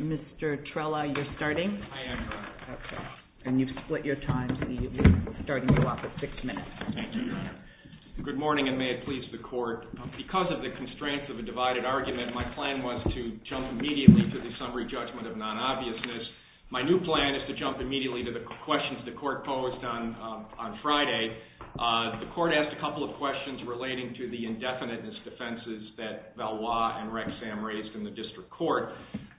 Mr. Trella, you're starting. I am, Your Honor. Okay. And you've split your time, so you'll be starting you off at six minutes. Thank you, Your Honor. Good morning, and may it please the Court. Because of the constraints of a divided argument, my plan was to jump immediately to the summary judgment of non-obvious My new plan is to jump immediately to the questions the Court posed on Friday. The Court asked a couple of questions relating to the indefiniteness defenses that Valois and Rexam raised in the District Court.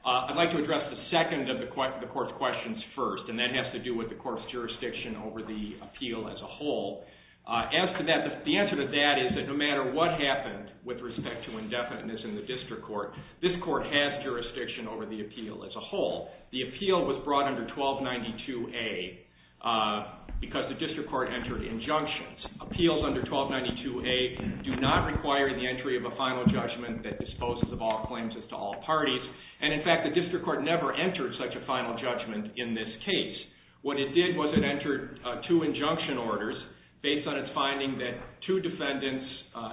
I'd like to address the second of the Court's questions first, and that has to do with the Court's jurisdiction over the appeal as a whole. The answer to that is that no matter what happened with respect to indefiniteness in the District Court, this Court has jurisdiction over the appeal as a whole. The appeal was brought under 1292A because the District Court entered injunctions. Appeals under 1292A do not require the entry of a final judgment that disposes of all claims as to all parties. And in fact, the District Court never entered such a final judgment in this case. What it did was it entered two injunction orders based on its finding that two defendants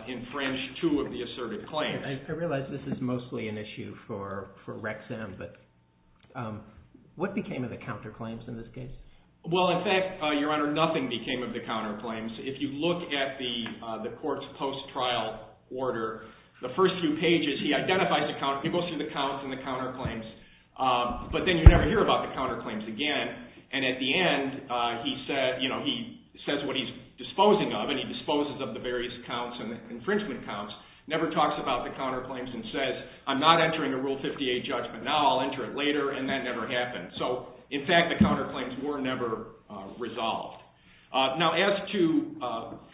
infringed two of the asserted claims. I realize this is mostly an issue for Rexam, but what became of the counterclaims in this case? Well, in fact, Your Honor, nothing became of the counterclaims. If you look at the Court's post-trial order, the first few pages, he identifies the counterclaims. He goes through the counts and the counterclaims, but then you never hear about the counterclaims again. And at the end, he says what he's disposing of, and he disposes of the various counts and the infringement counts, never talks about the counterclaims and says, I'm not entering a Rule 58 judgment now, I'll enter it later, and that never happened. So, in fact, the counterclaims were never resolved. Now, as to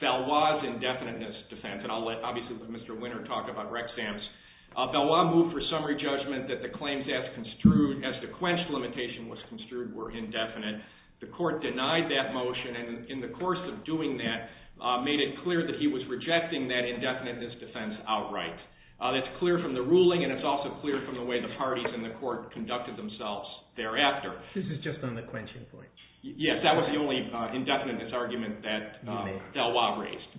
Valois' indefiniteness defense, and I'll obviously let Mr. Winter talk about Rexam's, Valois moved for summary judgment that the claims as construed, as the quench limitation was construed, were indefinite. The Court denied that motion, and in the course of doing that, made it clear that he was rejecting that indefiniteness defense outright. That's clear from the ruling, and it's also clear from the way the parties in the Court conducted themselves thereafter. This is just on the quenching point. Yes, that was the only indefiniteness argument that Valois raised.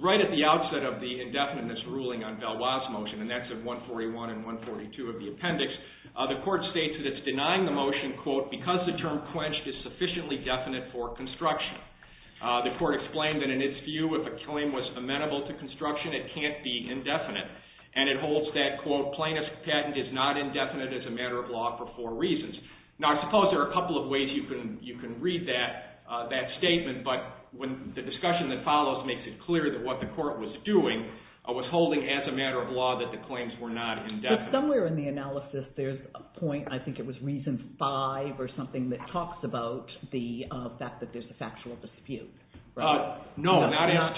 Right at the outset of the indefiniteness ruling on Valois' motion, and that's at 141 and 142 of the appendix, the Court states that it's denying the motion, quote, because the term quenched is sufficiently definite for construction. The Court explained that in its view, if a claim was amenable to construction, it can't be indefinite, and it holds that, quote, plaintiff's patent is not indefinite as a matter of law for four reasons. Now, I suppose there are a couple of ways you can read that statement, but the discussion that follows makes it clear that what the Court was doing was holding as a matter of law that the claims were not indefinite. Somewhere in the analysis, there's a point, I think it was reason five or something that talks about the fact that there's a factual dispute. No, not as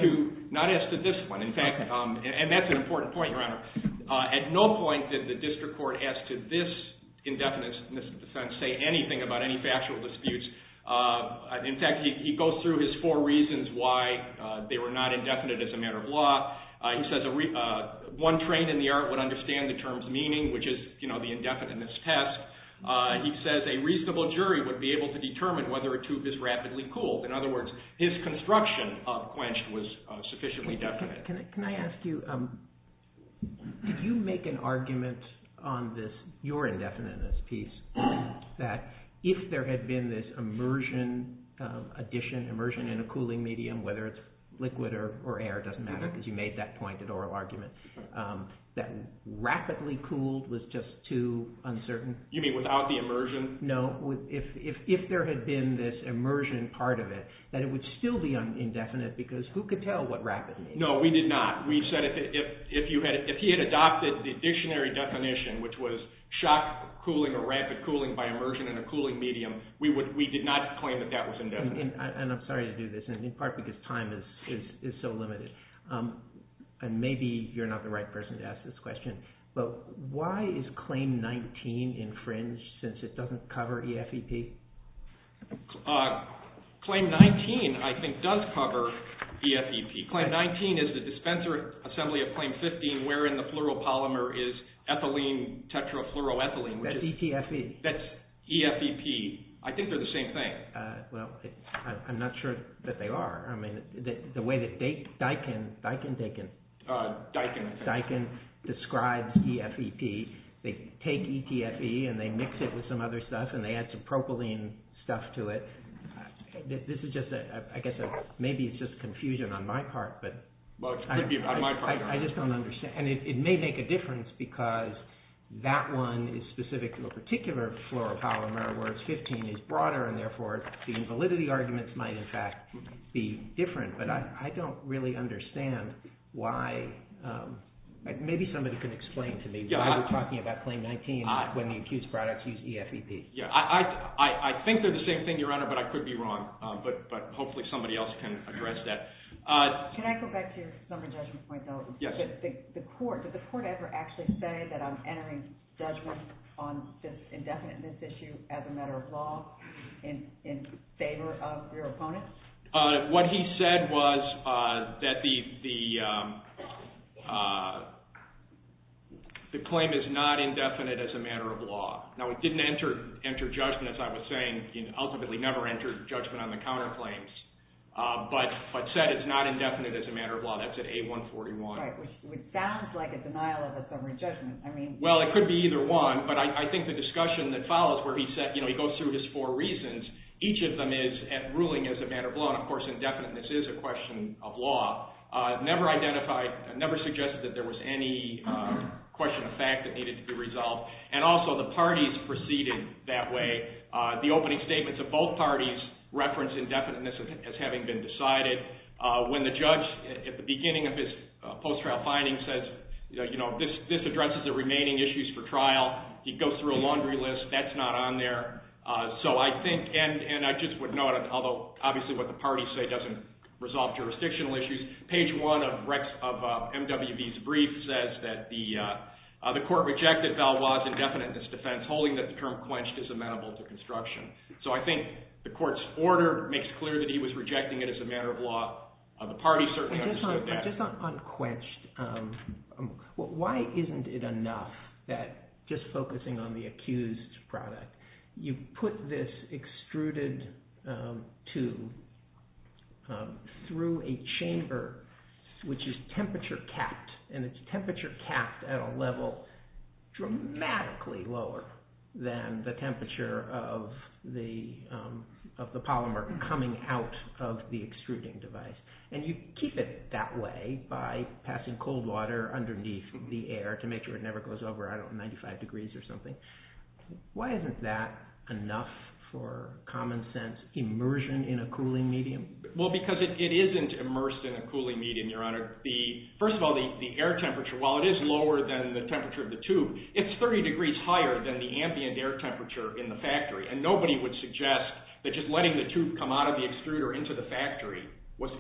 to this one. In fact, and that's an important point, Your Honor. At no point did the district court ask to this indefiniteness defense say anything about any factual disputes. In fact, he goes through his four reasons why they were not indefinite as a matter of law. He says one trained in the art would understand the term's meaning, which is the indefiniteness test. He says a reasonable jury would be able to determine whether a tube is rapidly cooled. In other words, his construction of quenched was sufficiently definite. Can I ask you, did you make an argument on this, your indefiniteness piece, that if there had been this immersion addition, immersion in a cooling medium, whether it's liquid or air, it doesn't matter because you made that pointed oral argument, that rapidly cooled was just too uncertain? You mean without the immersion? No, if there had been this immersion part of it, that it would still be indefinite because who could tell what rapid means? No, we did not. We said if he had adopted the dictionary definition, which was shock cooling or rapid cooling by immersion in a cooling medium, we did not claim that that was indefinite. I'm sorry to do this, in part because time is so limited, and maybe you're not the right person to ask this question, but why is Claim 19 infringed since it doesn't cover EFEP? Claim 19, I think, does cover EFEP. Claim 19 is the dispenser assembly of Claim 15, wherein the fluoropolymer is ethylene tetrafluoroethylene. That's ETFE. That's EFEP. I think they're the same thing. Well, I'm not sure that they are. I mean, the way that Daiken describes EFEP, they take ETFE and they mix it with some other stuff and they add some propylene stuff to it. This is just a – I guess maybe it's just confusion on my part, but I just don't understand. And it may make a difference because that one is specific to a particular fluoropolymer where it's 15 is broader, and therefore the validity arguments might, in fact, be different. But I don't really understand why – maybe somebody can explain to me why we're talking about Claim 19 when the accused products use EFEP. Yeah, I think they're the same thing, Your Honor, but I could be wrong. But hopefully somebody else can address that. Can I go back to your number judgment point, though? Yes. The court – did the court ever actually say that I'm entering judgment on this indefiniteness issue as a matter of law in favor of your opponent? What he said was that the claim is not indefinite as a matter of law. Now, it didn't enter judgment, as I was saying, ultimately never entered judgment on the counterclaims, but said it's not indefinite as a matter of law. That's at A141. Right, which sounds like a denial of a summary judgment. Well, it could be either one, but I think the discussion that follows where he said – he goes through his four reasons. Each of them is ruling as a matter of law, and, of course, indefiniteness is a question of law. Never identified – never suggested that there was any question of fact that needed to be resolved. And also the parties proceeded that way. The opening statements of both parties reference indefiniteness as having been decided. When the judge, at the beginning of his post-trial finding, says, you know, this addresses the remaining issues for trial, he goes through a laundry list. That's not on there. So I think – and I just would note, although obviously what the parties say doesn't resolve jurisdictional issues. Page 1 of MWB's brief says that the court rejected Valois' indefiniteness defense, holding that the term quenched is amenable to construction. So I think the court's order makes clear that he was rejecting it as a matter of law. Just on quenched, why isn't it enough that just focusing on the accused's product, you put this extruded to – through a chamber which is temperature capped, and it's temperature capped at a level dramatically lower than the temperature of the polymer coming out of the extruding device. And you keep it that way by passing cold water underneath the air to make sure it never goes over, I don't know, 95 degrees or something. Why isn't that enough for common sense immersion in a cooling medium? Well, because it isn't immersed in a cooling medium, Your Honor. First of all, the air temperature, while it is lower than the temperature of the tube, it's 30 degrees higher than the ambient air temperature in the factory. And nobody would suggest that just letting the tube come out of the extruder into the factory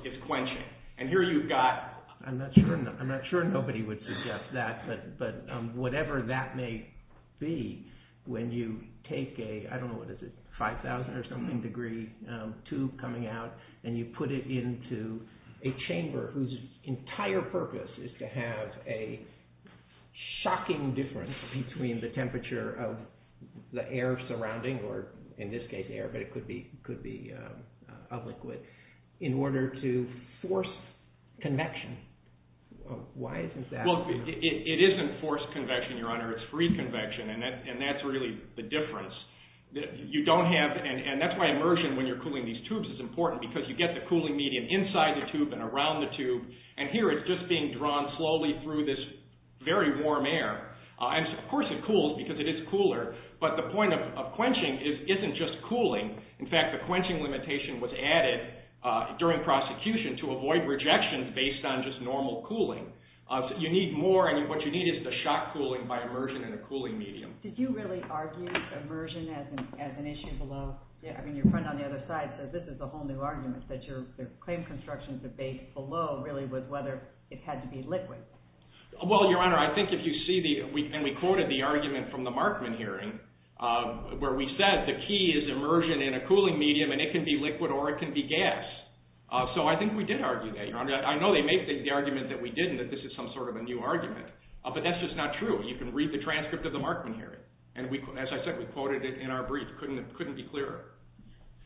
is quenching. And here you've got – I'm not sure nobody would suggest that, but whatever that may be, when you take a, I don't know, what is it, 5,000 or something degree tube coming out, and you put it into a chamber whose entire purpose is to have a shocking difference between the temperature of the air surrounding, or in this case air, but it could be a liquid, in order to force convection. Why isn't that enough? Well, it isn't forced convection, Your Honor. It's free convection, and that's really the difference. You don't have, and that's why immersion when you're cooling these tubes is important, because you get the cooling medium inside the tube and around the tube, and here it's just being drawn slowly through this very warm air. Of course it cools because it is cooler, but the point of quenching isn't just cooling. In fact, the quenching limitation was added during prosecution to avoid rejection based on just normal cooling. You need more, and what you need is the shock cooling by immersion in a cooling medium. Did you really argue immersion as an issue below? I mean, your friend on the other side says this is a whole new argument, that your claim construction debate below really was whether it had to be liquid. Well, Your Honor, I think if you see the, and we quoted the argument from the Markman hearing, where we said the key is immersion in a cooling medium, and it can be liquid or it can be gas. So I think we did argue that, Your Honor. I know they made the argument that we didn't, that this is some sort of a new argument, but that's just not true. You can read the transcript of the Markman hearing, and as I said, we quoted it in our brief. It couldn't be clearer.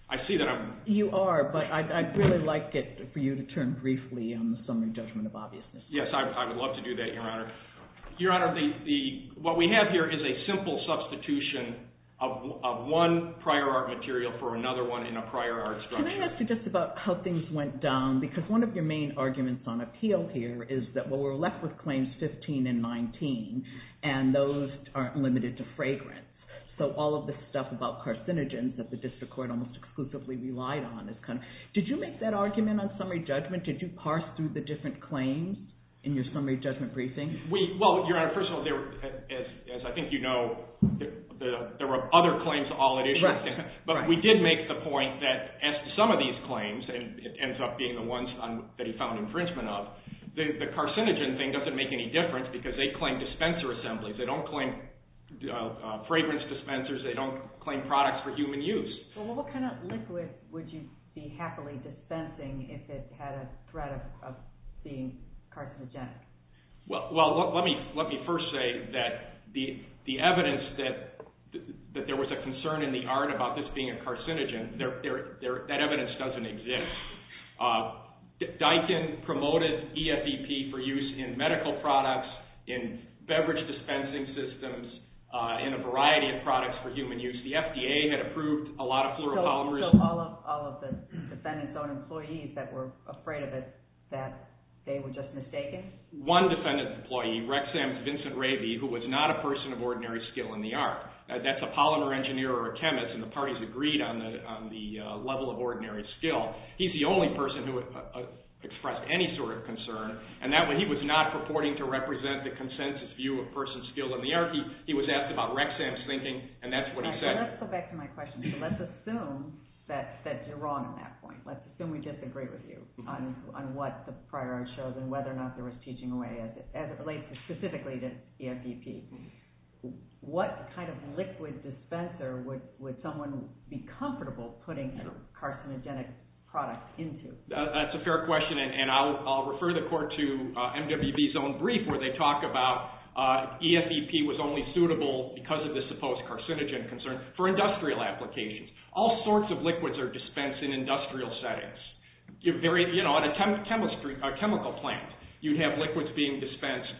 I see that I'm… You are, but I'd really like it for you to turn briefly on the summary judgment of obviousness. Yes, I would love to do that, Your Honor. Your Honor, what we have here is a simple substitution of one prior art material for another one in a prior art structure. Can I ask you just about how things went down? Because one of your main arguments on appeal here is that, well, we're left with claims 15 and 19, and those aren't limited to fragrance. So all of the stuff about carcinogens that the district court almost exclusively relied on is kind of… Did you make that argument on summary judgment? Did you parse through the different claims in your summary judgment briefing? Well, Your Honor, first of all, as I think you know, there were other claims all at issue. Right. But we did make the point that as to some of these claims, and it ends up being the ones that he found infringement of, the carcinogen thing doesn't make any difference because they claim dispenser assemblies. They don't claim fragrance dispensers. They don't claim products for human use. Well, what kind of liquid would you be happily dispensing if it had a threat of being carcinogenic? Well, let me first say that the evidence that there was a concern in the art about this being a carcinogen, that evidence doesn't exist. Diken promoted EFEP for use in medical products, in beverage dispensing systems, in a variety of products for human use. The FDA had approved a lot of fluoropolymers. So all of the defendant's own employees that were afraid of it, that they were just mistaken? One defendant's employee, Rexham's Vincent Ravy, who was not a person of ordinary skill in the art. That's a polymer engineer or a chemist, and the parties agreed on the level of ordinary skill. He's the only person who expressed any sort of concern, and that way he was not purporting to represent the consensus view of person's skill in the art. He was asked about Rexham's thinking, and that's what he said. Let's go back to my question. Let's assume that you're wrong on that point. Let's assume we disagree with you on what the prior art shows and whether or not there was teaching away as it relates specifically to EFEP. What kind of liquid dispenser would someone be comfortable putting carcinogenic products into? That's a fair question, and I'll refer the court to MWB's own brief where they talk about EFEP was only suitable because of the supposed carcinogen concern. For industrial applications, all sorts of liquids are dispensed in industrial settings. In a chemical plant, you have liquids being dispensed.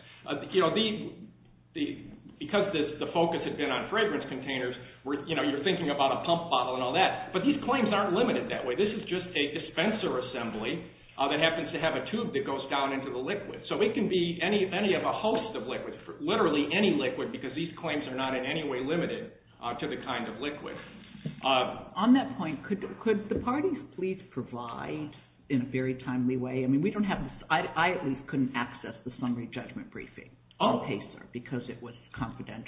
Because the focus had been on fragrance containers, you're thinking about a pump bottle and all that, but these claims aren't limited that way. This is just a dispenser assembly that happens to have a tube that goes down into the liquid. It can be any of a host of liquids, literally any liquid, because these claims are not in any way limited to the kind of liquid. On that point, could the parties please provide in a very timely way? I at least couldn't access the summary judgment briefing because it was confidential.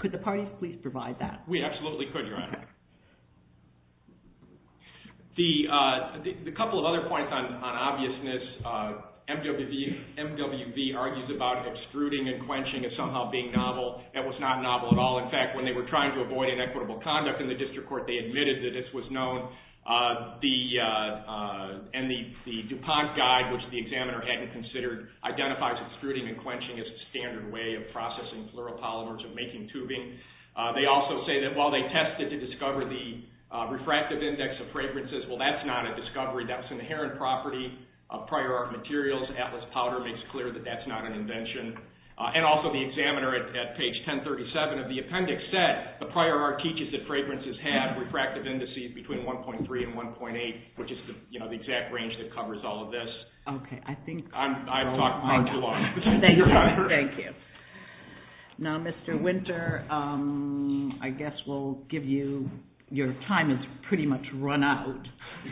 Could the parties please provide that? We absolutely could, Your Honor. A couple of other points on obviousness. MWB argues about extruding and quenching as somehow being novel. That was not novel at all. In fact, when they were trying to avoid inequitable conduct in the district court, they admitted that this was known. The DuPont guide, which the examiner hadn't considered, identifies extruding and quenching as a standard way of processing fluoropolymers and making tubing. They also say that while they tested to discover the refractive index of fragrances, well, that's not a discovery. That's an inherent property of prior art materials. Atlas Powder makes clear that that's not an invention. Also, the examiner at page 1037 of the appendix said the prior art teaches that fragrances have refractive indices between 1.3 and 1.8, which is the exact range that covers all of this. I've talked far too long. Thank you. Now, Mr. Winter, I guess we'll give you – your time has pretty much run out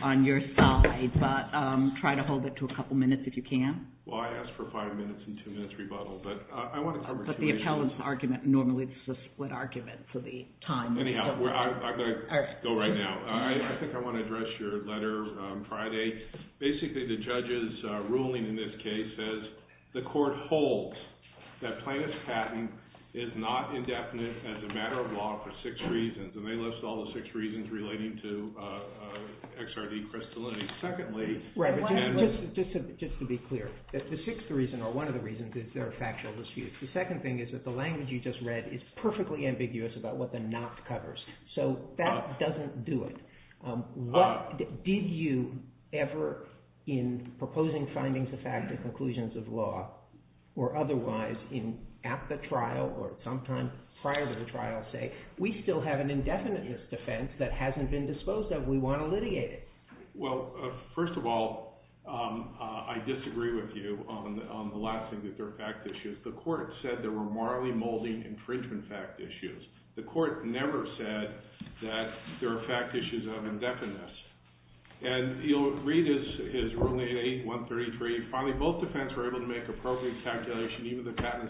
on your side, but try to hold it to a couple minutes if you can. Well, I asked for a five-minute and two-minute rebuttal, but I want to cover two issues. But the appellant's argument normally is a split argument for the time. Anyhow, I've got to go right now. I think I want to address your letter Friday. Basically, the judge's ruling in this case says the court holds that plaintiff's patent is not indefinite as a matter of law for six reasons, and they list all the six reasons relating to XRD crystallinity. Secondly – Just to be clear, the sixth reason or one of the reasons is they're a factual dispute. The second thing is that the language you just read is perfectly ambiguous about what the not covers. So that doesn't do it. What did you ever in proposing findings of fact and conclusions of law or otherwise at the trial or sometime prior to the trial say, we still have an indefiniteness defense that hasn't been disposed of. We want to litigate it. Well, first of all, I disagree with you on the last thing, that there are fact issues. The court said there were morally molding infringement fact issues. The court never said that there are fact issues of indefiniteness. And you'll read his ruling 8-133. Finally, both defense were able to make appropriate calculations even though the patent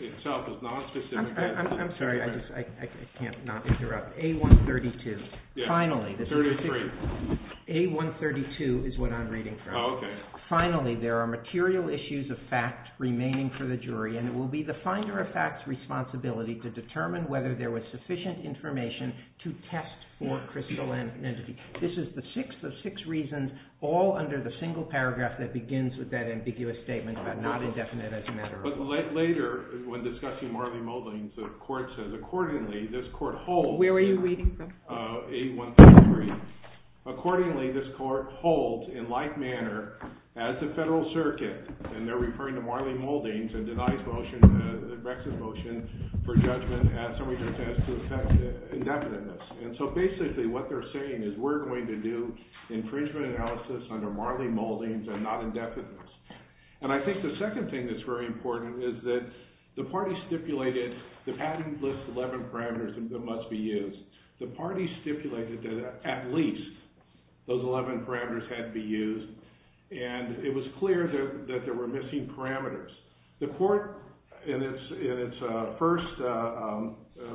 itself is not specific. I'm sorry. I can't not interrupt. A-132. Finally. 33. A-132 is what I'm reading from. Oh, okay. Finally, there are material issues of fact remaining for the jury. And it will be the finder of fact's responsibility to determine whether there was sufficient information to test for crystal entity. This is the sixth of six reasons all under the single paragraph that begins with that ambiguous statement about not indefinite as a matter of fact. But later, when discussing morally molding, the court says, accordingly, this court holds. Where were you reading from? A-133. Accordingly, this court holds in like manner as the federal circuit. And they're referring to morally moldings and deny his motion, Rex's motion, for judgment as somebody's attempt to test indefiniteness. And so basically what they're saying is we're going to do infringement analysis under morally moldings and not indefiniteness. And I think the second thing that's very important is that the party stipulated the patent lists 11 parameters that must be used. The party stipulated that at least those 11 parameters had to be used. And it was clear that there were missing parameters. The court, in its first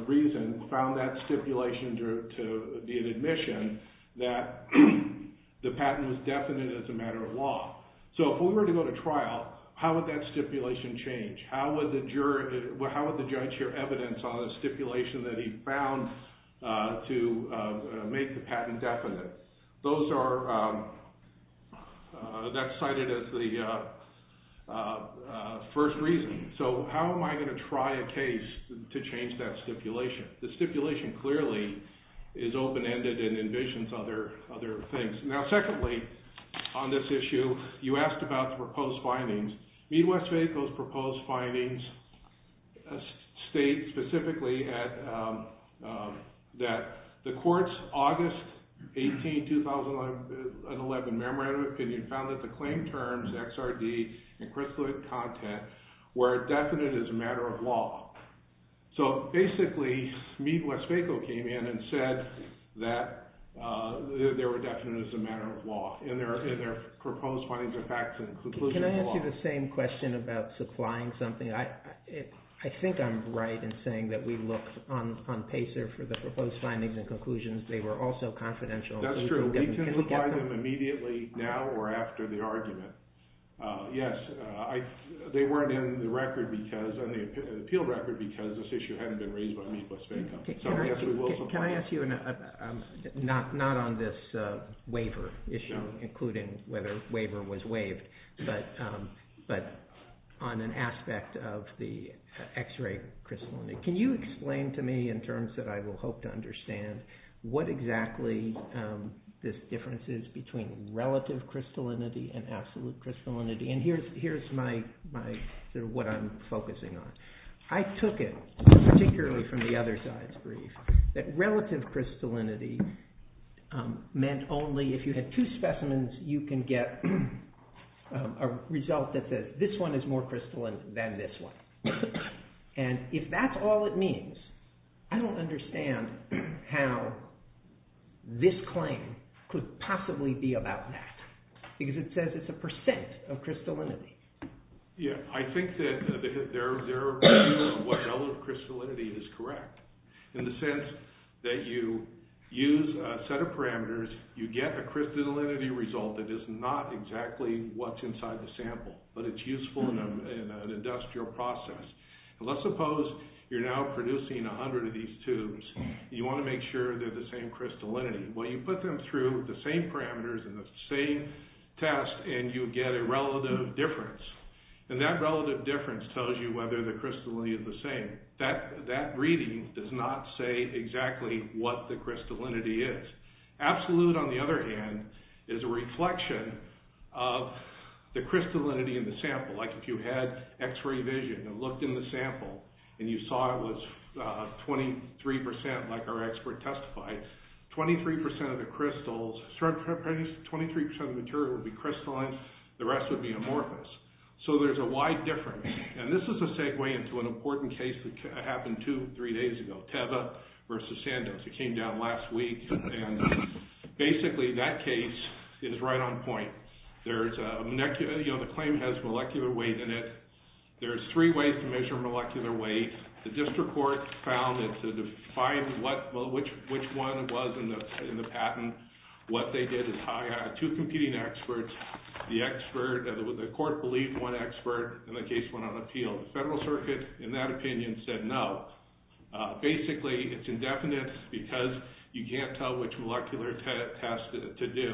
reason, found that stipulation to be an admission that the patent was definite as a matter of law. So if we were to go to trial, how would that stipulation change? How would the judge hear evidence on a stipulation that he found to make the patent definite? That's cited as the first reason. So how am I going to try a case to change that stipulation? The stipulation clearly is open-ended and envisions other things. Now, secondly, on this issue, you asked about the proposed findings. Meade-Westphalco's proposed findings state specifically that the court's August 18, 2011 memorandum of opinion found that the claim terms, XRD, and Crisler content were definite as a matter of law. So basically, Meade-Westphalco came in and said that they were definite as a matter of law in their proposed findings of facts and conclusions of law. Can I ask you the same question about supplying something? I think I'm right in saying that we looked on PACER for the proposed findings and conclusions. They were also confidential. That's true. We can supply them immediately now or after the argument. Yes, they weren't in the appeal record because this issue hadn't been raised by Meade-Westphalco. Can I ask you, not on this waiver issue, including whether a waiver was waived, but on an aspect of the X-ray crystallinity? Can you explain to me in terms that I will hope to understand what exactly this difference is between relative crystallinity and absolute crystallinity? Here's what I'm focusing on. I took it, particularly from the other side's brief, that relative crystallinity meant only if you had two specimens, you can get a result that this one is more crystalline than this one. If that's all it means, I don't understand how this claim could possibly be about that because it says it's a percent of crystallinity. Yes, I think that their view on what relative crystallinity is correct in the sense that you use a set of parameters, you get a crystallinity result that is not exactly what's inside the sample, but it's useful in an industrial process. Let's suppose you're now producing 100 of these tubes and you want to make sure they're the same crystallinity. Well, you put them through the same parameters and the same test and you get a relative difference. And that relative difference tells you whether the crystallinity is the same. That reading does not say exactly what the crystallinity is. Absolute, on the other hand, is a reflection of the crystallinity in the sample. Like if you had x-ray vision and looked in the sample and you saw it was 23%, like our expert testified, 23% of the crystals, 23% of the material would be crystalline. The rest would be amorphous. So there's a wide difference. And this is a segue into an important case that happened two or three days ago, Teva versus Sandos. It came down last week. And basically that case is right on point. The claim has molecular weight in it. There's three ways to measure molecular weight. The district court found that to define which one it was in the patent, what they did is hire two competing experts. The expert, the court believed one expert, and the case went on appeal. The federal circuit, in that opinion, said no. Basically, it's indefinite because you can't tell which molecular test to do.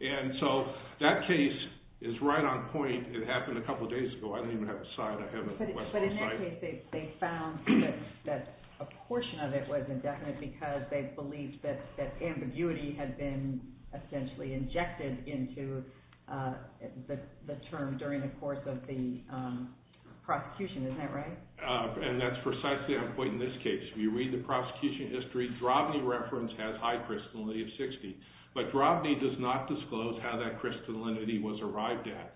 And so that case is right on point. It happened a couple of days ago. I don't even have a sign. I have a website. But in that case, they found that a portion of it was indefinite because they believed that ambiguity had been essentially injected into the term during the course of the prosecution. Isn't that right? And that's precisely on point in this case. If you read the prosecution history, Drobny reference has high crystallinity of 60. But Drobny does not disclose how that crystallinity was arrived at.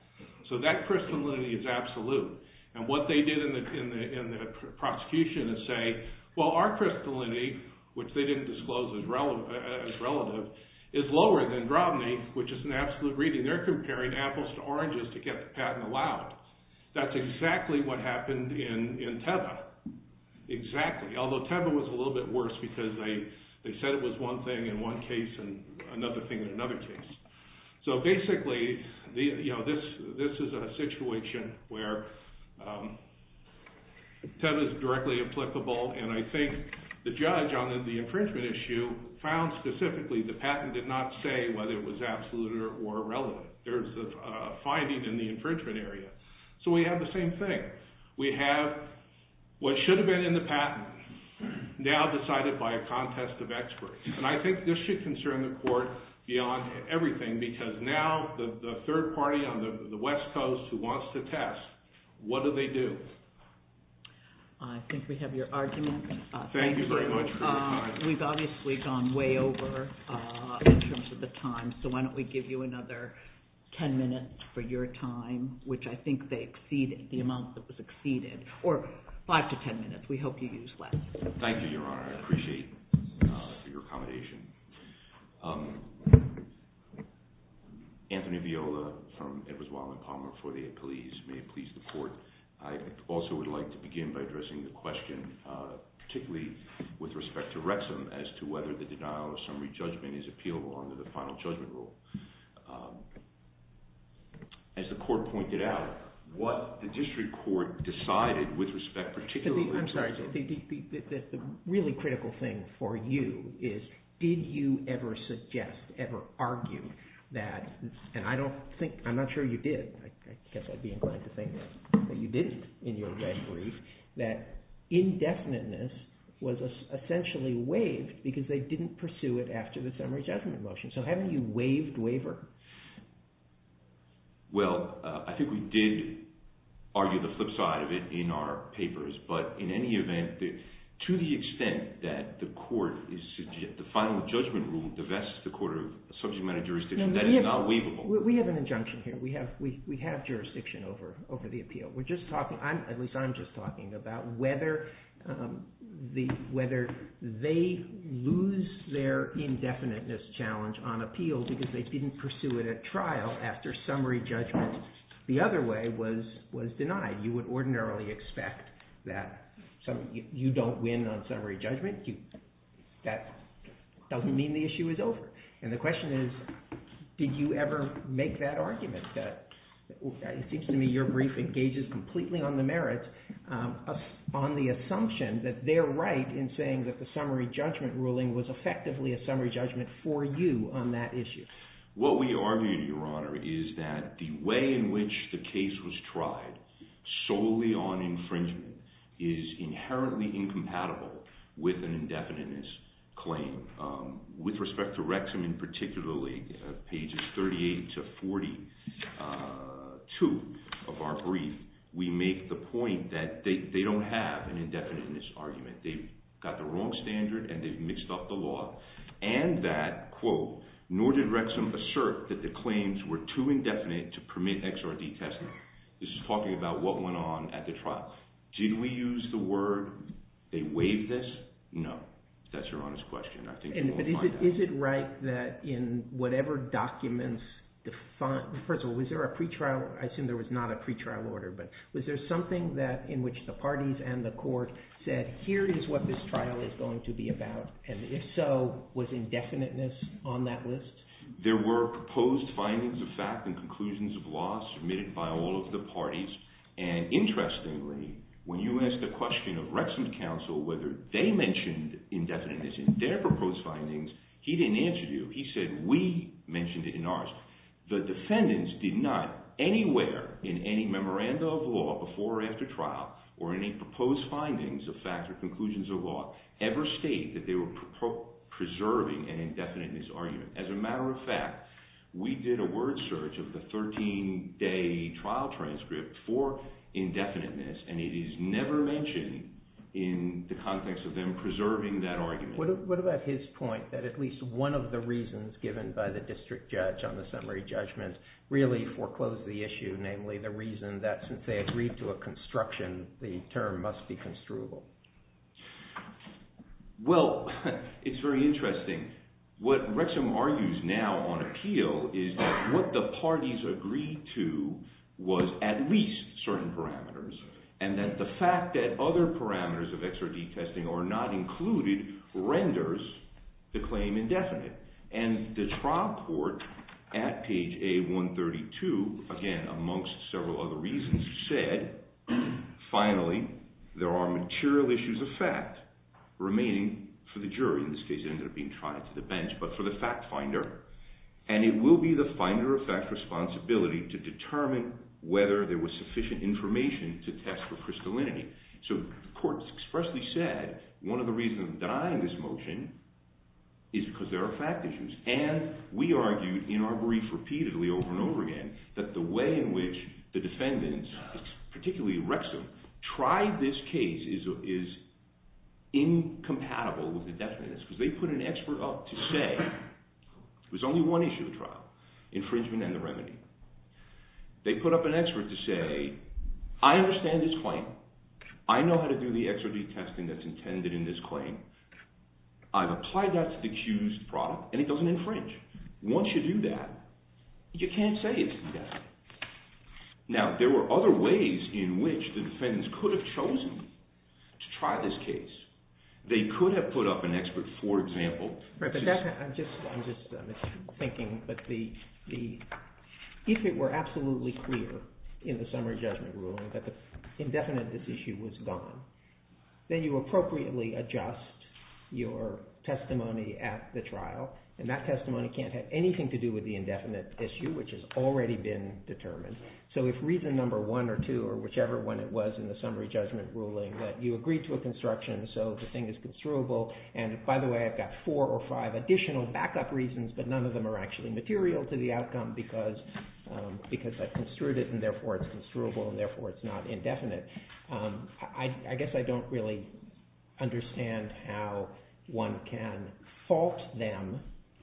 So that crystallinity is absolute. And what they did in the prosecution is say, well, our crystallinity, which they didn't disclose as relative, is lower than Drobny, which is an absolute reading. They're comparing apples to oranges to get the patent allowed. That's exactly what happened in Teva. Exactly. Although Teva was a little bit worse because they said it was one thing in one case and another thing in another case. So basically, this is a situation where Teva is directly applicable. And I think the judge on the infringement issue found specifically the patent did not say whether it was absolute or irrelevant. There's a finding in the infringement area. So we have the same thing. We have what should have been in the patent now decided by a contest of experts. And I think this should concern the court beyond everything because now the third party on the West Coast who wants to test, what do they do? I think we have your argument. Thank you very much for your time. We've obviously gone way over in terms of the time. So why don't we give you another 10 minutes for your time, which I think they exceeded, the amount that was exceeded, or five to 10 minutes. We hope you use less. Thank you, Your Honor. I appreciate your accommodation. Anthony Viola from Edwards, Wallen, Palmer for the police. May it please the court. I also would like to begin by addressing the question, particularly with respect to Wrexham, as to whether the denial of summary judgment is appealable under the final judgment rule. As the court pointed out, what the district court decided with respect, particularly to the- I'm sorry. The really critical thing for you is did you ever suggest, ever argue that, and I don't think, I'm not sure you did. I guess I'd be inclined to think that you did in your brief, that indefiniteness was essentially waived because they didn't pursue it after the summary judgment motion. So haven't you waived waiver? Well, I think we did argue the flip side of it in our papers. But in any event, to the extent that the court, the final judgment rule divests the court of subject matter jurisdiction, that is not waivable. We have an injunction here. We have jurisdiction over the appeal. We're just talking, at least I'm just talking about whether they lose their indefiniteness challenge on appeal because they didn't pursue it at trial after summary judgment. The other way was denied. You would ordinarily expect that you don't win on summary judgment. That doesn't mean the issue is over. And the question is did you ever make that argument? It seems to me your brief engages completely on the merits, on the assumption that they're right in saying that the summary judgment ruling was effectively a summary judgment for you on that issue. What we argue, Your Honor, is that the way in which the case was tried solely on infringement is inherently incompatible with an indefiniteness claim. With respect to Rexham and particularly pages 38 to 42 of our brief, we make the point that they don't have an indefiniteness argument. They've got the wrong standard and they've mixed up the law. And that, quote, nor did Rexham assert that the claims were too indefinite to permit XRD testing. This is talking about what went on at the trial. Did we use the word they waived this? No. That's Your Honor's question. I think you won't find out. Is it right that in whatever documents, first of all, was there a pretrial? I assume there was not a pretrial order. But was there something in which the parties and the court said here is what this trial is going to be about? And if so, was indefiniteness on that list? There were proposed findings of fact and conclusions of law submitted by all of the parties. And interestingly, when you ask the question of Rexham's counsel whether they mentioned indefiniteness in their proposed findings, he didn't answer you. He said we mentioned it in ours. The defendants did not anywhere in any memoranda of law before or after trial or any proposed findings of fact or conclusions of law ever state that they were preserving an indefiniteness argument. As a matter of fact, we did a word search of the 13-day trial transcript for indefiniteness, and it is never mentioned in the context of them preserving that argument. What about his point that at least one of the reasons given by the district judge on the summary judgment really foreclosed the issue, namely the reason that since they agreed to a construction, the term must be construable? Well, it's very interesting. What Rexham argues now on appeal is that what the parties agreed to was at least certain parameters, and that the fact that other parameters of XRD testing are not included renders the claim indefinite. And the trial court at page A132, again, amongst several other reasons, said, finally, there are material issues of fact remaining for the jury. In this case, it ended up being tried to the bench, but for the fact finder. And it will be the finder of fact's responsibility to determine whether there was sufficient information to test for crystallinity. So the court expressly said, one of the reasons of denying this motion is because there are fact issues. And we argued in our brief repeatedly over and over again that the way in which the defendants, particularly Rexham, tried this case is incompatible with indefiniteness. Because they put an expert up to say there's only one issue of the trial, infringement and the remedy. They put up an expert to say, I understand this claim. I know how to do the XRD testing that's intended in this claim. I've applied that to the accused product, and it doesn't infringe. Once you do that, you can't say it's indefinite. Now, there were other ways in which the defendants could have chosen to try this case. They could have put up an expert, for example. I'm just thinking, if it were absolutely clear in the summary judgment ruling that the indefiniteness issue was gone, then you appropriately adjust your testimony at the trial. And that testimony can't have anything to do with the indefinite issue, which has already been determined. So if reason number one or two, or whichever one it was in the summary judgment ruling, that you agree to a construction so the thing is construable. And by the way, I've got four or five additional backup reasons, but none of them are actually material to the outcome because I've construed it, and therefore it's construable, and therefore it's not indefinite. I guess I don't really understand how one can fault them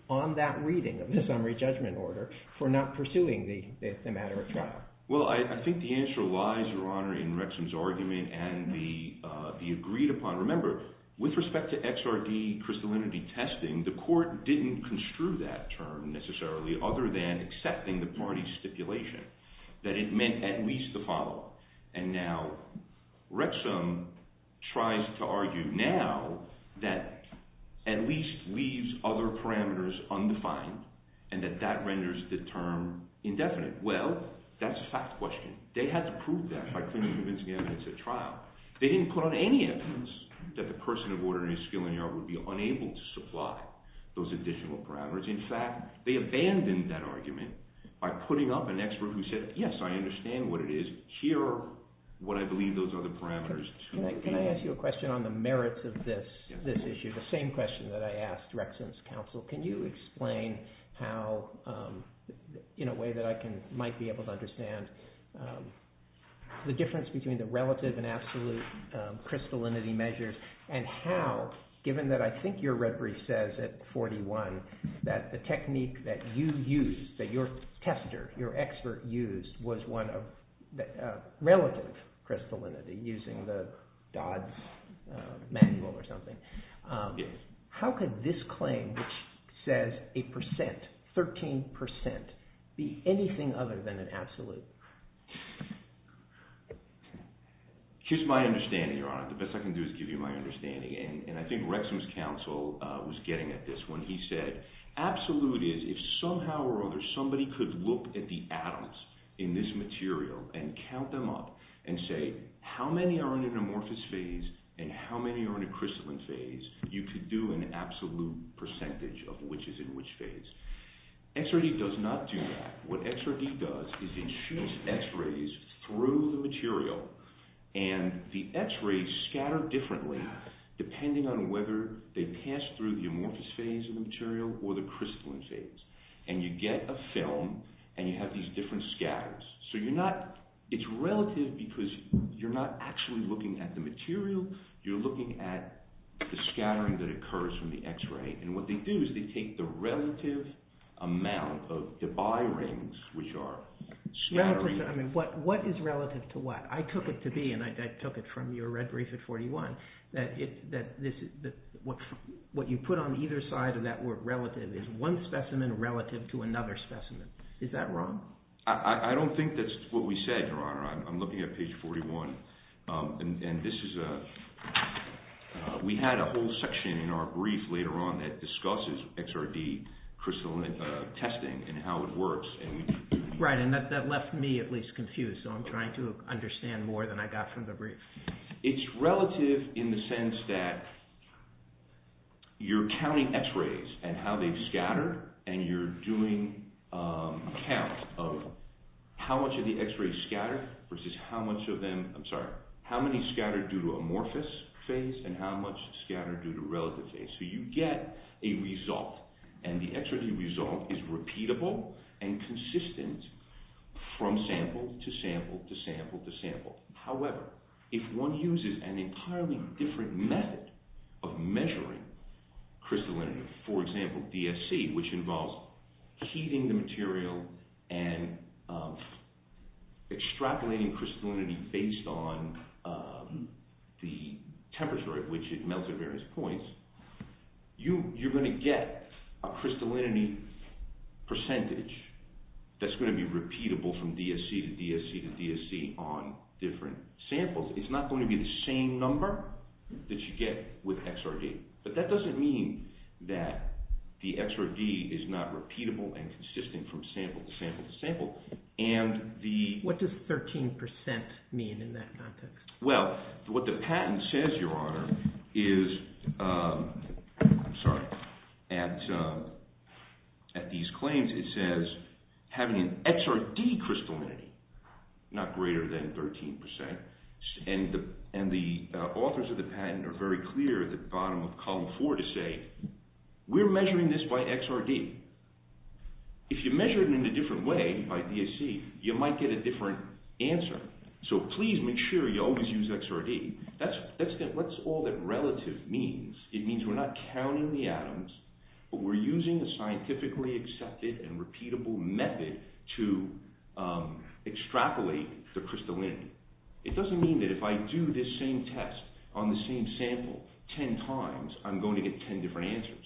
on that reading of the summary judgment order for not pursuing the matter at trial. Well, I think the answer lies, Your Honor, in Rexham's argument and the agreed upon. Remember, with respect to XRD crystallinity testing, the court didn't construe that term necessarily other than accepting the party's stipulation, that it meant at least the following. And now Rexham tries to argue now that at least leaves other parameters undefined and that that renders the term indefinite. Well, that's a fact question. They had to prove that by proving convincing evidence at trial. They didn't put on any evidence that the person of ordinary skill in here would be unable to supply those additional parameters. In fact, they abandoned that argument by putting up an expert who said, yes, I understand what it is. Here are what I believe those are the parameters. Can I ask you a question on the merits of this issue? The same question that I asked Rexham's counsel. Can you explain how, in a way that I might be able to understand, the difference between the relative and absolute crystallinity measures? And how, given that I think your referee says at 41 that the technique that you used, that your tester, your expert used, was one of relative crystallinity using the Dodd's manual or something. How could this claim, which says a percent, 13 percent, be anything other than an absolute? Here's my understanding, Your Honor. The best I can do is give you my understanding. And I think Rexham's counsel was getting at this when he said absolute is if somehow or other somebody could look at the atoms in this material and count them up and say, how many are in an amorphous phase and how many are in a crystalline phase, you could do an absolute percentage of which is in which phase. XRD does not do that. What XRD does is it shoots X-rays through the material and the X-rays scatter differently depending on whether they pass through the amorphous phase of the material or the crystalline phase. And you get a film and you have these different scatters. So it's relative because you're not actually looking at the material, you're looking at the scattering that occurs from the X-ray. And what they do is they take the relative amount of Debye rings, which are scattering. What is relative to what? I took it to be, and I took it from your red brief at 41, that what you put on either side of that word relative is one specimen relative to another specimen. Is that wrong? I don't think that's what we said, your honor. I'm looking at page 41. And this is a we had a whole section in our brief later on that discusses XRD crystalline testing and how it works. Right. And that left me at least confused. So I'm trying to understand more than I got from the brief. It's relative in the sense that you're counting X-rays and how they scatter and you're doing count of how much of the X-rays scatter versus how much of them. I'm sorry, how many scattered due to amorphous phase and how much scattered due to relative phase. So you get a result and the X-ray result is repeatable and consistent from sample to sample to sample to sample. However, if one uses an entirely different method of measuring crystallinity, for example, DSC, which involves heating the material and extrapolating crystallinity based on the temperature at which it melts at various points. You're going to get a crystallinity percentage that's going to be repeatable from DSC to DSC to DSC on different samples. It's not going to be the same number that you get with XRD. But that doesn't mean that the XRD is not repeatable and consistent from sample to sample to sample. What does 13% mean in that context? Well, what the patent says, Your Honor, is, I'm sorry, at these claims it says having an XRD crystallinity not greater than 13% and the authors of the patent are very clear at the bottom of column four to say we're measuring this by XRD. If you measure it in a different way by DSC, you might get a different answer. So please make sure you always use XRD. That's all that relative means. It means we're not counting the atoms, but we're using a scientifically accepted and repeatable method to extrapolate the crystallinity. It doesn't mean that if I do this same test on the same sample ten times, I'm going to get ten different answers.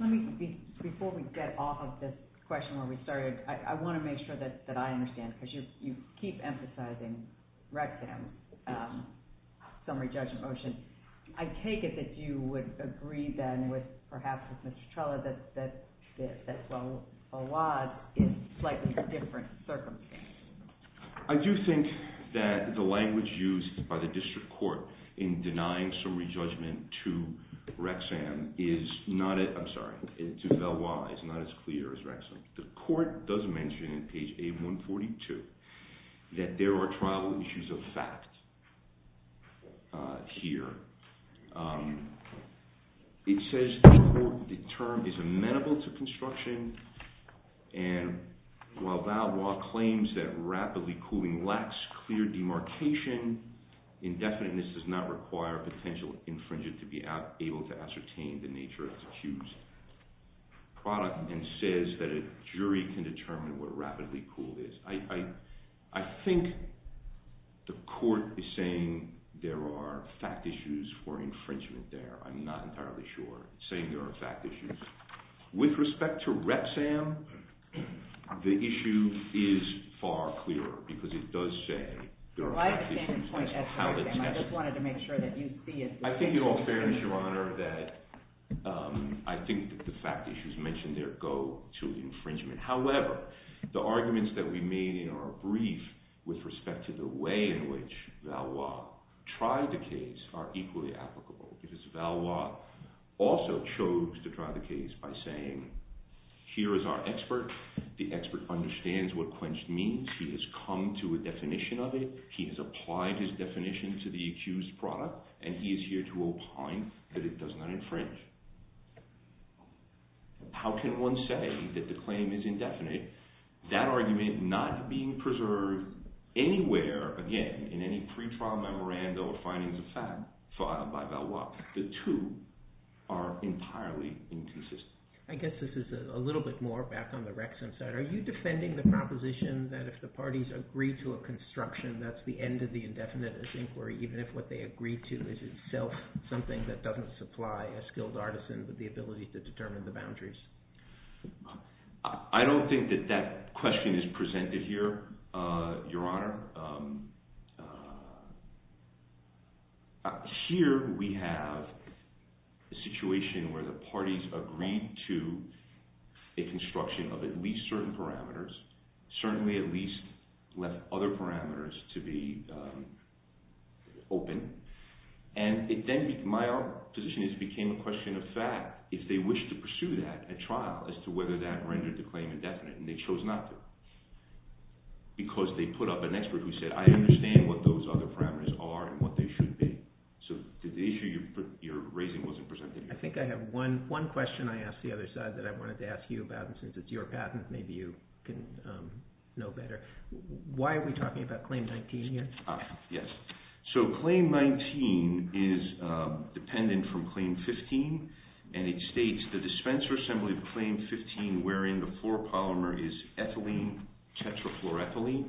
Let me, before we get off of this question where we started, I want to make sure that I understand, because you keep emphasizing Rexham's summary judgment motion. I take it that you would agree then with perhaps with Mr. Trella that O.W.A.D. is slightly different circumstance. I do think that the language used by the district court in denying summary judgment to Rexham is not, I'm sorry, to Valois is not as clear as Rexham. The court does mention in page A142 that there are tribal issues of fact here. It says the term is amenable to construction, and while Valois claims that rapidly cooling lacks clear demarcation, indefiniteness does not require potential infringement to be able to ascertain the nature of the accused product, and says that a jury can determine what rapidly cooled is. I think the court is saying there are fact issues for infringement there. I'm not entirely sure. It's saying there are fact issues. With respect to Rexham, the issue is far clearer, because it does say there are fact issues. I just wanted to make sure that you see it. I think in all fairness, Your Honor, that I think that the fact issues mentioned there go to infringement. However, the arguments that we made in our brief with respect to the way in which Valois tried the case are equally applicable, because Valois also chose to try the case by saying, here is our expert. The expert understands what quenched means. He has come to a definition of it. He has applied his definition to the accused product, and he is here to opine that it does not infringe. How can one say that the claim is indefinite? That argument not being preserved anywhere, again, in any pretrial memorandum or findings of fact filed by Valois, the two are entirely inconsistent. I guess this is a little bit more back on the Rexham side. Are you defending the proposition that if the parties agree to a construction, that's the end of the indefinite inquiry, even if what they agree to is itself something that doesn't supply a skilled artisan with the ability to determine the boundaries? I don't think that that question is presented here, Your Honor. Here we have a situation where the parties agreed to a construction of at least certain parameters, certainly at least left other parameters to be open, and then my own position is it became a question of fact if they wished to pursue that at trial as to whether that rendered the claim indefinite, and they chose not to because they put up an expert who said, I understand what those other parameters are and what they should be. So the issue you're raising wasn't presented here. I think I have one question I asked the other side that I wanted to ask you about, and since it's your patent, maybe you can know better. Why are we talking about Claim 19 here? Yes. So Claim 19 is dependent from Claim 15, and it states the dispenser assembly of Claim 15, wherein the fluoropolymer is ethylene tetrafluoroethylene.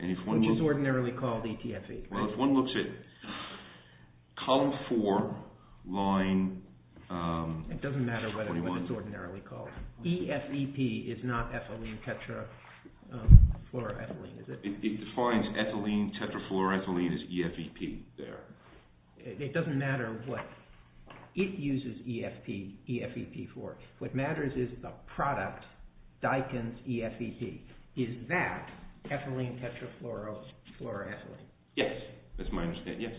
Which is ordinarily called ETFE. Well, if one looks at Column 4, line 21. It doesn't matter what it's ordinarily called. EFEP is not ethylene tetrafluoroethylene, is it? It defines ethylene tetrafluoroethylene as EFEP there. It doesn't matter what it uses EFEP for. What matters is the product, Daikin's EFEP. Is that ethylene tetrafluoroethylene? Yes. That's my understanding, yes.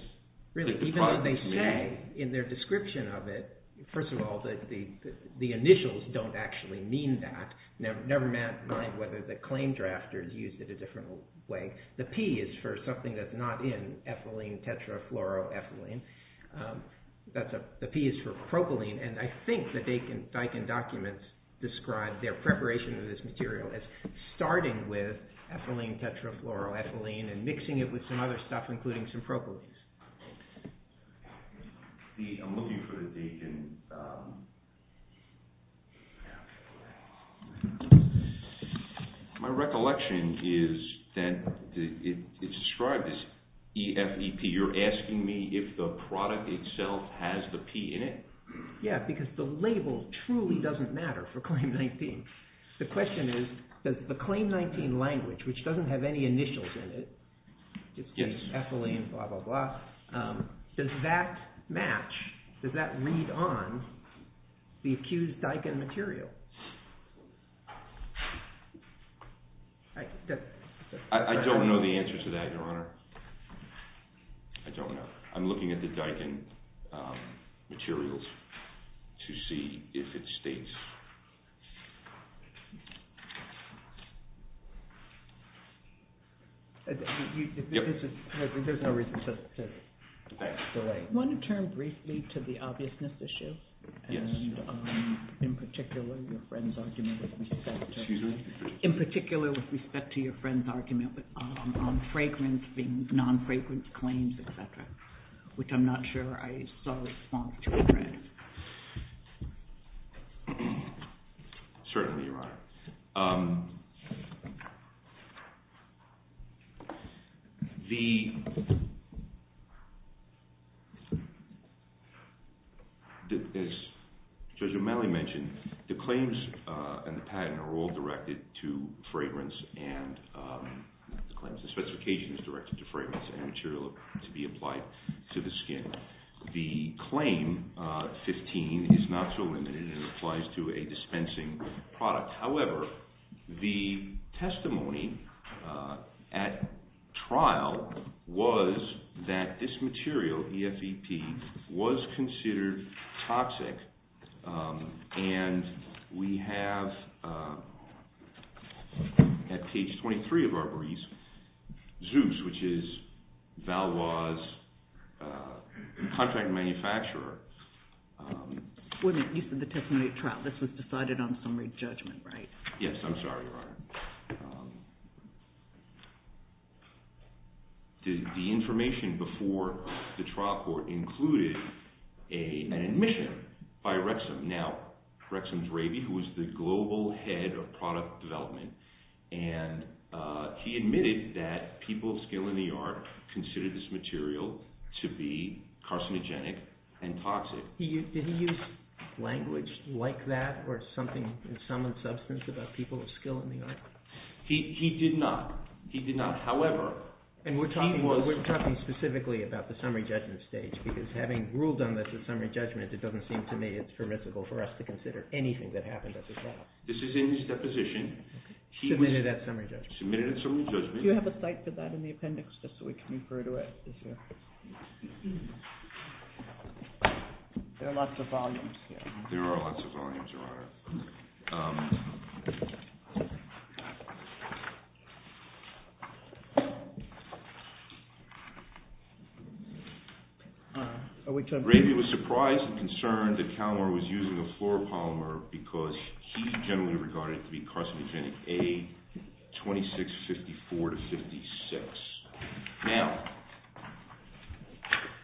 Really, even though they say in their description of it, first of all, the initials don't actually mean that. Never mind whether the claim drafters used it a different way. The P is for something that's not in ethylene tetrafluoroethylene. The P is for propylene, and I think the Daikin documents describe their preparation of this material as starting with ethylene tetrafluoroethylene and mixing it with some other stuff, including some propylenes. I'm looking for the Daikin... My recollection is that it's described as EFEP. You're asking me if the product itself has the P in it? Yeah, because the label truly doesn't matter for Claim 19. The question is, does the Claim 19 language, which doesn't have any initials in it—it's just ethylene, blah, blah, blah—does that match, does that read on the accused Daikin material? I don't know the answer to that, Your Honor. I don't know. I'm looking at the Daikin materials to see if it states... There's no reason to delay. Do you want to turn briefly to the obviousness issue? Yes. And in particular, your friend's argument with respect to... Excuse me? In particular, with respect to your friend's argument on fragrance being non-fragrance claims, et cetera, which I'm not sure I saw a response to. Certainly, Your Honor. The... As Judge O'Malley mentioned, the claims and the patent are all directed to fragrance and... The specification is directed to fragrance and material to be applied to the skin. The Claim 15 is not so limited. It applies to a dispensing product. However, the testimony at trial was that this material, EFEP, was considered toxic, and we have at page 23 of Arborese, Zeus, which is Valois' contract manufacturer... Yes, I'm sorry, Your Honor. The information before the trial court included an admission by Wrexham. Now, Wrexham Dravey, who was the global head of product development, and he admitted that people of skill in the art considered this material to be carcinogenic and toxic. Did he use language like that or something in some substance about people of skill in the art? He did not. He did not. However, he was... And we're talking specifically about the summary judgment stage, because having ruled on this at summary judgment, it doesn't seem to me it's permissible for us to consider anything that happened at the trial. This is in his deposition. Submitted at summary judgment. Submitted at summary judgment. Do you have a cite for that in the appendix, just so we can refer to it? There are lots of volumes here. There are lots of volumes, Your Honor. Dravey was surprised and concerned that Calamer was using a fluoropolymer because he generally regarded it to be carcinogenic, A2654-56. Now,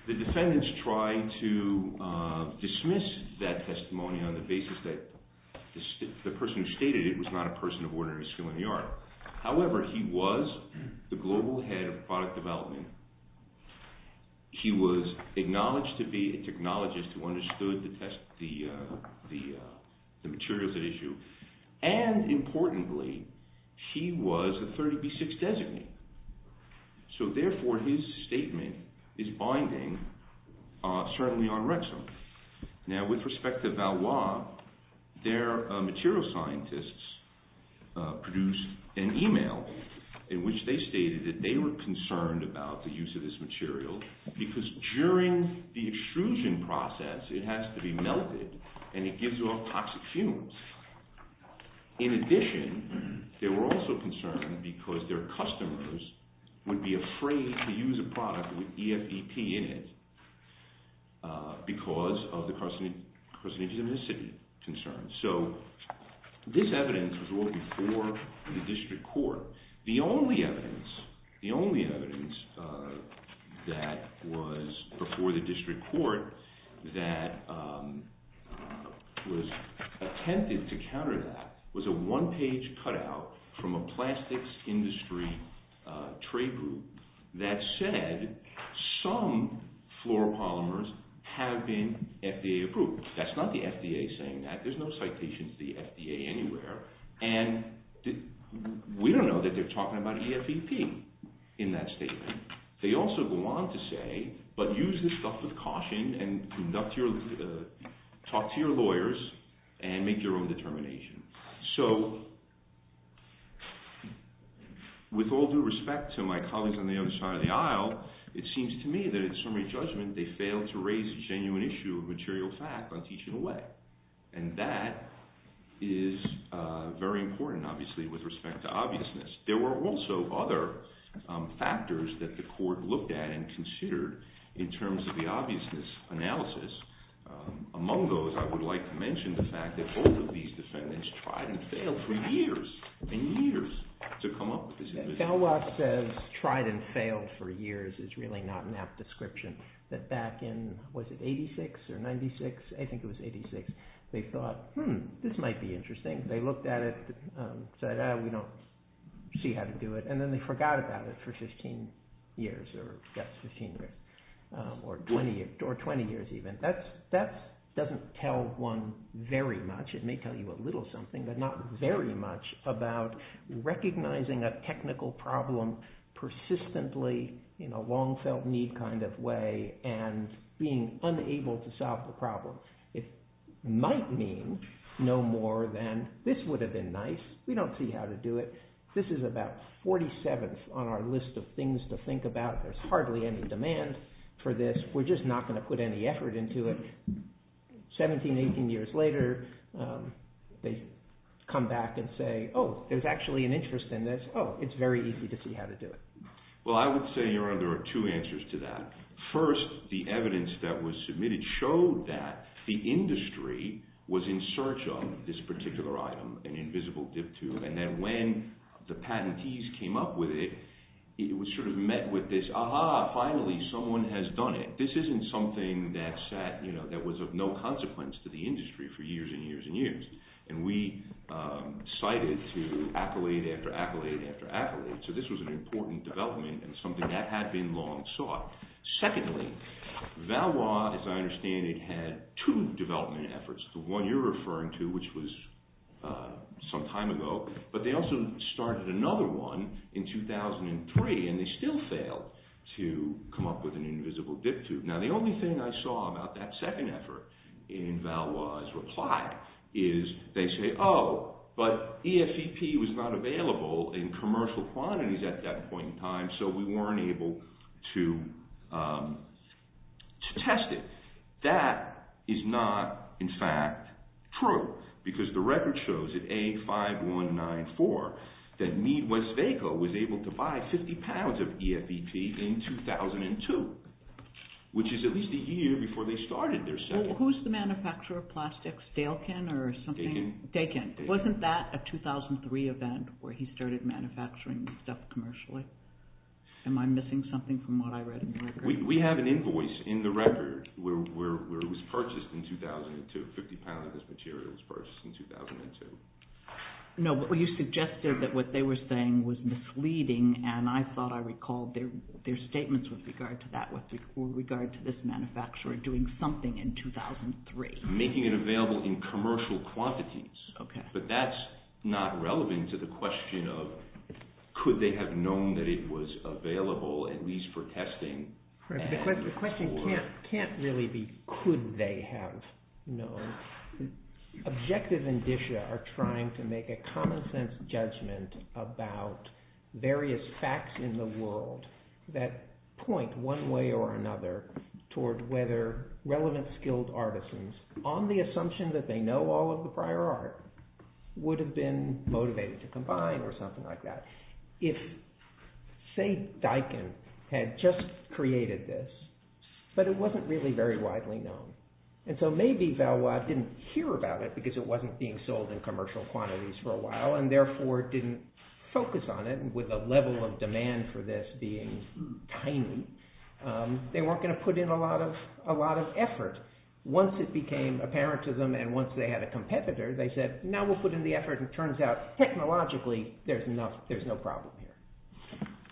the defendants tried to dismiss that testimony on the basis that the person who stated it was not a person of ordinary skill in the art. However, he was the global head of product development. He was acknowledged to be a technologist who understood the materials at issue. And, importantly, he was a 30B6 designee. So, therefore, his statement is binding, certainly on Rexham. Now, with respect to Valois, their material scientists produced an email in which they stated that they were concerned about the use of this material because during the extrusion process, it has to be melted and it gives off toxic fumes. In addition, they were also concerned because their customers would be afraid to use a product with EFEP in it because of the carcinogenicity concerns. So, this evidence was ruled before the district court. The only evidence that was before the district court that was attempted to counter that was a one-page cutout from a plastics industry trade group that said some fluoropolymers have been FDA approved. That's not the FDA saying that. There's no citation to the FDA anywhere. We don't know that they're talking about EFEP in that statement. They also go on to say, but use this stuff with caution and talk to your lawyers and make your own determination. So, with all due respect to my colleagues on the other side of the aisle, it seems to me that in summary judgment, they failed to raise a genuine issue of material fact on teaching away. And that is very important, obviously, with respect to obviousness. There were also other factors that the court looked at and considered in terms of the obviousness analysis. Among those, I would like to mention the fact that both of these defendants tried and failed for years and years to come up with this. Galois says tried and failed for years is really not an apt description. That back in, was it 86 or 96? I think it was 86. They thought, hmm, this might be interesting. They looked at it, said, oh, we don't see how to do it. And then they forgot about it for 15 years or, yes, 15 or 20 years even. That doesn't tell one very much. It may tell you a little something, but not very much about recognizing a technical problem persistently in a long-felt-need kind of way and being unable to solve the problem. It might mean no more than this would have been nice. We don't see how to do it. This is about 47th on our list of things to think about. There's hardly any demand for this. We're just not going to put any effort into it. 17, 18 years later, they come back and say, oh, there's actually an interest in this. Oh, it's very easy to see how to do it. Well, I would say there are two answers to that. First, the evidence that was submitted showed that the industry was in search of this particular item, an invisible dip tube. And then when the patentees came up with it, it was sort of met with this, aha, finally someone has done it. This isn't something that was of no consequence to the industry for years and years and years. And we cited to accolade after accolade after accolade. So this was an important development and something that had been long sought. Secondly, Valois, as I understand it, had two development efforts, the one you're referring to, which was some time ago. But they also started another one in 2003, and they still failed to come up with an invisible dip tube. Now, the only thing I saw about that second effort in Valois' reply is they say, oh, but EFVP was not available in commercial quantities at that point in time. So we weren't able to test it. That is not, in fact, true, because the record shows that A5194, that Mead, Westvaco, was able to buy 50 pounds of EFVP in 2002, which is at least a year before they started their second. Well, who's the manufacturer of plastics, Daikin or something? Daikin. Daikin. Wasn't that a 2003 event where he started manufacturing stuff commercially? Am I missing something from what I read in the record? We have an invoice in the record where it was purchased in 2002, 50 pounds of this material was purchased in 2002. No, but you suggested that what they were saying was misleading, and I thought I recalled their statements with regard to that, with regard to this manufacturer doing something in 2003. Making it available in commercial quantities, but that's not relevant to the question of could they have known that it was available, at least for testing. The question can't really be could they have known. Objective and Disha are trying to make a common sense judgment about various facts in the world that point one way or another toward whether relevant skilled artisans, on the assumption that they know all of the prior art, would have been motivated to combine or something like that. Say Daikin had just created this, but it wasn't really very widely known. And so maybe Valois didn't hear about it because it wasn't being sold in commercial quantities for a while and therefore didn't focus on it with a level of demand for this being tiny. They weren't going to put in a lot of effort. Once it became apparent to them and once they had a competitor, they said now we'll put in the effort. It turns out technologically there's no problem here.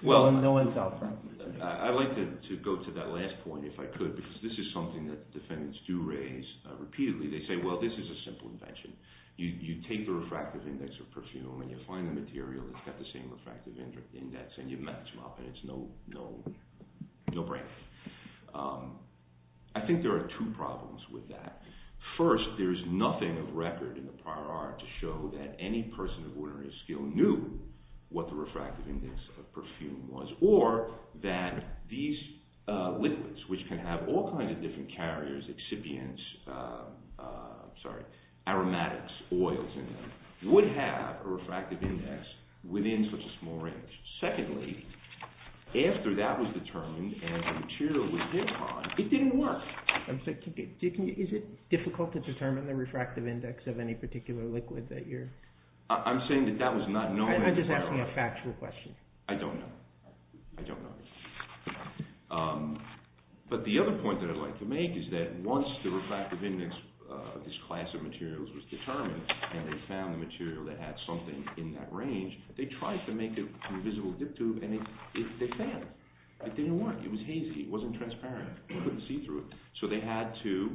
Well, I'd like to go to that last point if I could, because this is something that defendants do raise repeatedly. They say, well, this is a simple invention. You take the refractive index of perfume and you find the material that's got the same refractive index and you match them up and it's no brainer. I think there are two problems with that. First, there's nothing of record in the prior art to show that any person of ordinary skill knew what the refractive index of perfume was or that these liquids, which can have all kinds of different carriers, excipients, aromatics, oils in them, would have a refractive index within such a small range. Secondly, after that was determined and the material was hit on, it didn't work. Is it difficult to determine the refractive index of any particular liquid that you're… I'm saying that that was not known… I'm just asking a factual question. I don't know. I don't know. But the other point that I'd like to make is that once the refractive index of this class of materials was determined and they found the material that had something in that range, they tried to make it to a visible dip tube and they failed. It didn't work. It was hazy. It wasn't transparent. They couldn't see through it. So they had to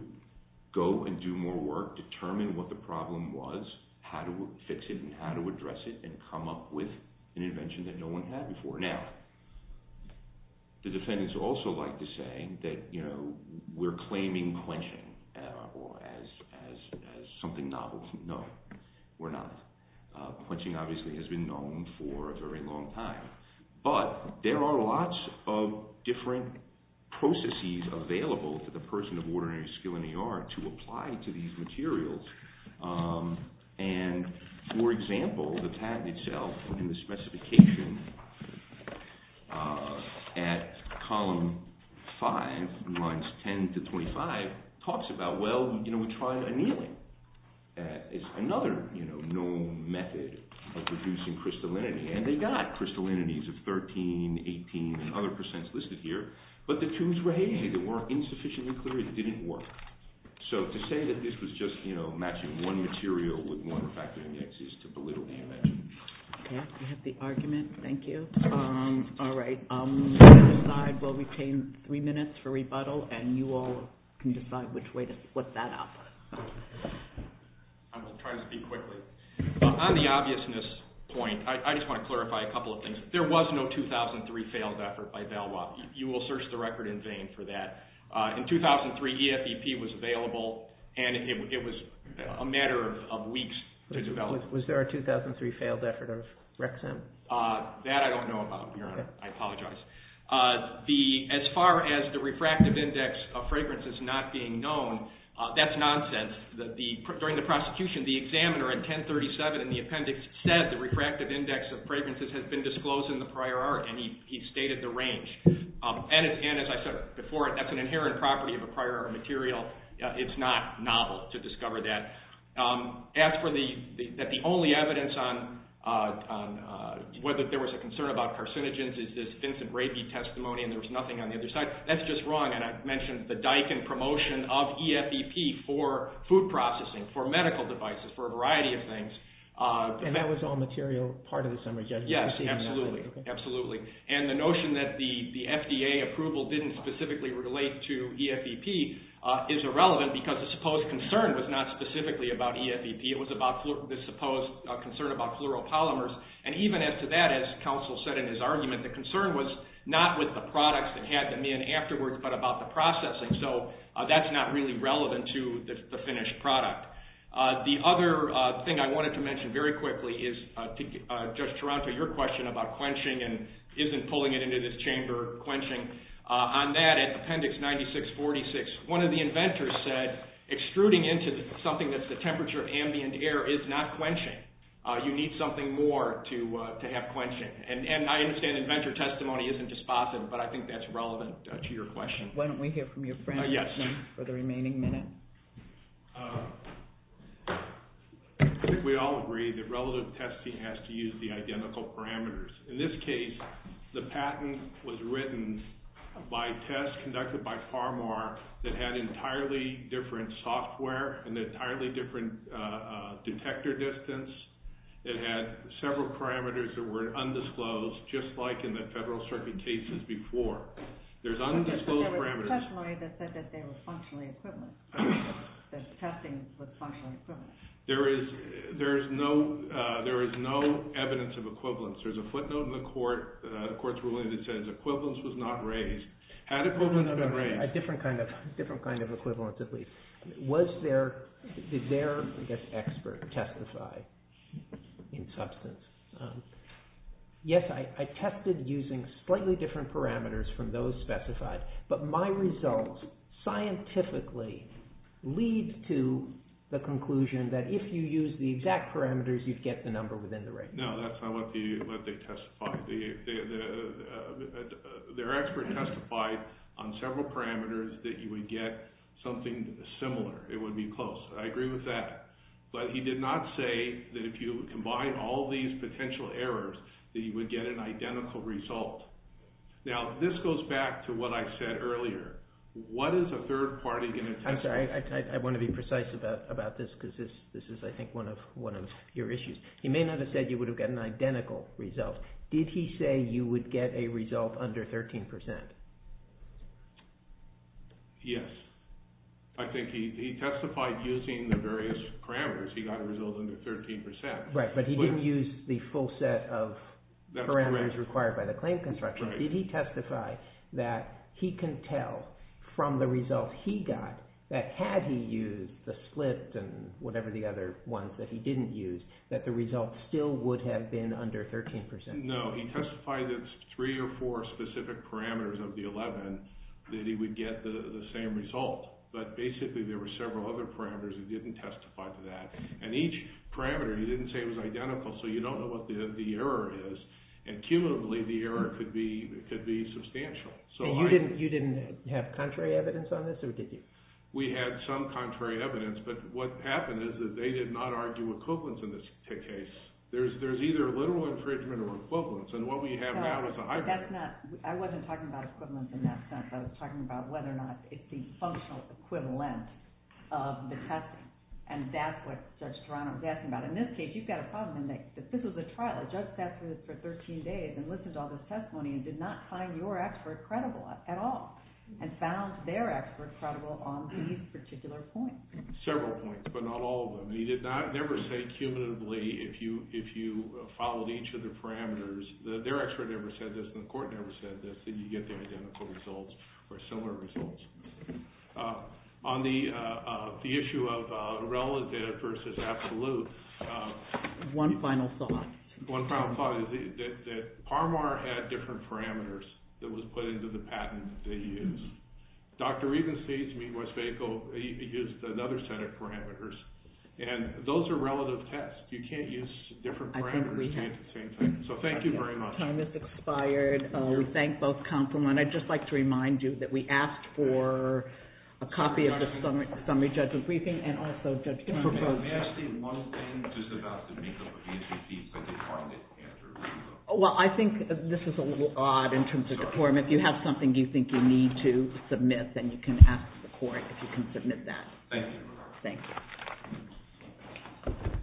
go and do more work, determine what the problem was, how to fix it and how to address it and come up with an invention that no one had before. Now, the defendants also like to say that we're claiming quenching as something novel. No, we're not. Quenching obviously has been known for a very long time. But there are lots of different processes available to the person of ordinary skill in the art to apply to these materials. And, for example, the patent itself and the specification at column 5, lines 10 to 25, talks about, well, we tried annealing. It's another known method of producing crystallinity. And they got crystallinities of 13, 18 and other percents listed here. But the tubes were hazy. They weren't insufficiently clear. It didn't work. So to say that this was just matching one material with one refractive index is to belittle the invention. Okay. I have the argument. Thank you. All right. We'll retain three minutes for rebuttal, and you all can decide which way to split that up. I'm going to try to speak quickly. On the obviousness point, I just want to clarify a couple of things. There was no 2003 failed effort by Valois. You will search the record in vain for that. In 2003, EFEP was available, and it was a matter of weeks to develop it. Was there a 2003 failed effort of Rexent? That I don't know about, Your Honor. I apologize. As far as the refractive index of fragrances not being known, that's nonsense. During the prosecution, the examiner in 1037 in the appendix said the refractive index of fragrances has been disclosed in the prior art, and he stated the range. And as I said before, that's an inherent property of a prior art material. It's not novel to discover that. As for the only evidence on whether there was a concern about carcinogens, is this Vincent Rabey testimony, and there was nothing on the other side. That's just wrong, and I've mentioned the Diken promotion of EFEP for food processing, for medical devices, for a variety of things. And that was all material part of the summary judgment? Yes, absolutely. And the notion that the FDA approval didn't specifically relate to EFEP is irrelevant because the supposed concern was not specifically about EFEP. It was about the supposed concern about fluoropolymers. And even as to that, as counsel said in his argument, the concern was not with the products that had them in afterwards, but about the processing. So that's not really relevant to the finished product. The other thing I wanted to mention very quickly is, Judge Taranto, your question about quenching and isn't pulling it into this chamber, quenching. On that, in appendix 9646, one of the inventors said, extruding into something that's the temperature of ambient air is not quenching. You need something more to have quenching. And I understand inventor testimony isn't dispositive, but I think that's relevant to your question. Why don't we hear from your friend for the remaining minute? I think we all agree that relative testing has to use the identical parameters. In this case, the patent was written by tests conducted by Pharma that had entirely different software and an entirely different detector distance. It had several parameters that were undisclosed, just like in the Federal Circuit cases before. There's undisclosed parameters. There was a testimony that said that they were functionally equivalent, that testing was functionally equivalent. There is no evidence of equivalence. There's a footnote in the court's ruling that says equivalence was not raised. Had equivalence been raised? A different kind of equivalence, at least. Did their expert testify in substance? Yes, I tested using slightly different parameters from those specified, but my results scientifically lead to the conclusion that if you use the exact parameters, you'd get the number within the range. No, that's not what they testified. Their expert testified on several parameters that you would get something similar. It would be close. I agree with that. But he did not say that if you combine all these potential errors, that you would get an identical result. Now, this goes back to what I said earlier. What is a third party going to testify? I'm sorry. I want to be precise about this because this is, I think, one of your issues. He may not have said you would get an identical result. Did he say you would get a result under 13%? Yes. I think he testified using the various parameters. He got a result under 13%. Right, but he didn't use the full set of parameters required by the claim construction. Did he testify that he can tell from the result he got, that had he used the split and whatever the other ones that he didn't use, that the result still would have been under 13%? No, he testified it's three or four specific parameters of the 11 that he would get the same result. But basically, there were several other parameters he didn't testify to that. And each parameter, he didn't say it was identical, so you don't know what the error is. And cumulatively, the error could be substantial. You didn't have contrary evidence on this, or did you? We had some contrary evidence, but what happened is that they did not argue equivalence in this case. There's either literal infringement or equivalence, and what we have now is a hybrid. I wasn't talking about equivalence in that sense. I was talking about whether or not it's the functional equivalent of the testing, and that's what Judge Toronto was asking about. In this case, you've got a problem in that this was a trial. A judge sat through this for 13 days and listened to all this testimony and did not find your expert credible at all and found their expert credible on these particular points. Several points, but not all of them. He did never say cumulatively if you followed each of the parameters. Their expert never said this, and the court never said this, that you get the identical results or similar results. On the issue of irrelevant versus absolute. One final thought. One final thought is that Parmar had different parameters that was put into the patent that he used. Dr. Rieben states, meanwhile, he used another set of parameters, and those are relative tests. You can't use different parameters to get the same thing. So thank you very much. Time has expired. We thank both counselmen. I'd just like to remind you that we asked for a copy of the summary judgment briefing and also Judge Toronto's. May I ask you one thing just about the make-up of the interviews that they found that answered? Well, I think this is a little odd in terms of the form. If you have something you think you need to submit, then you can ask the court if you can submit that. Thank you. Thank you.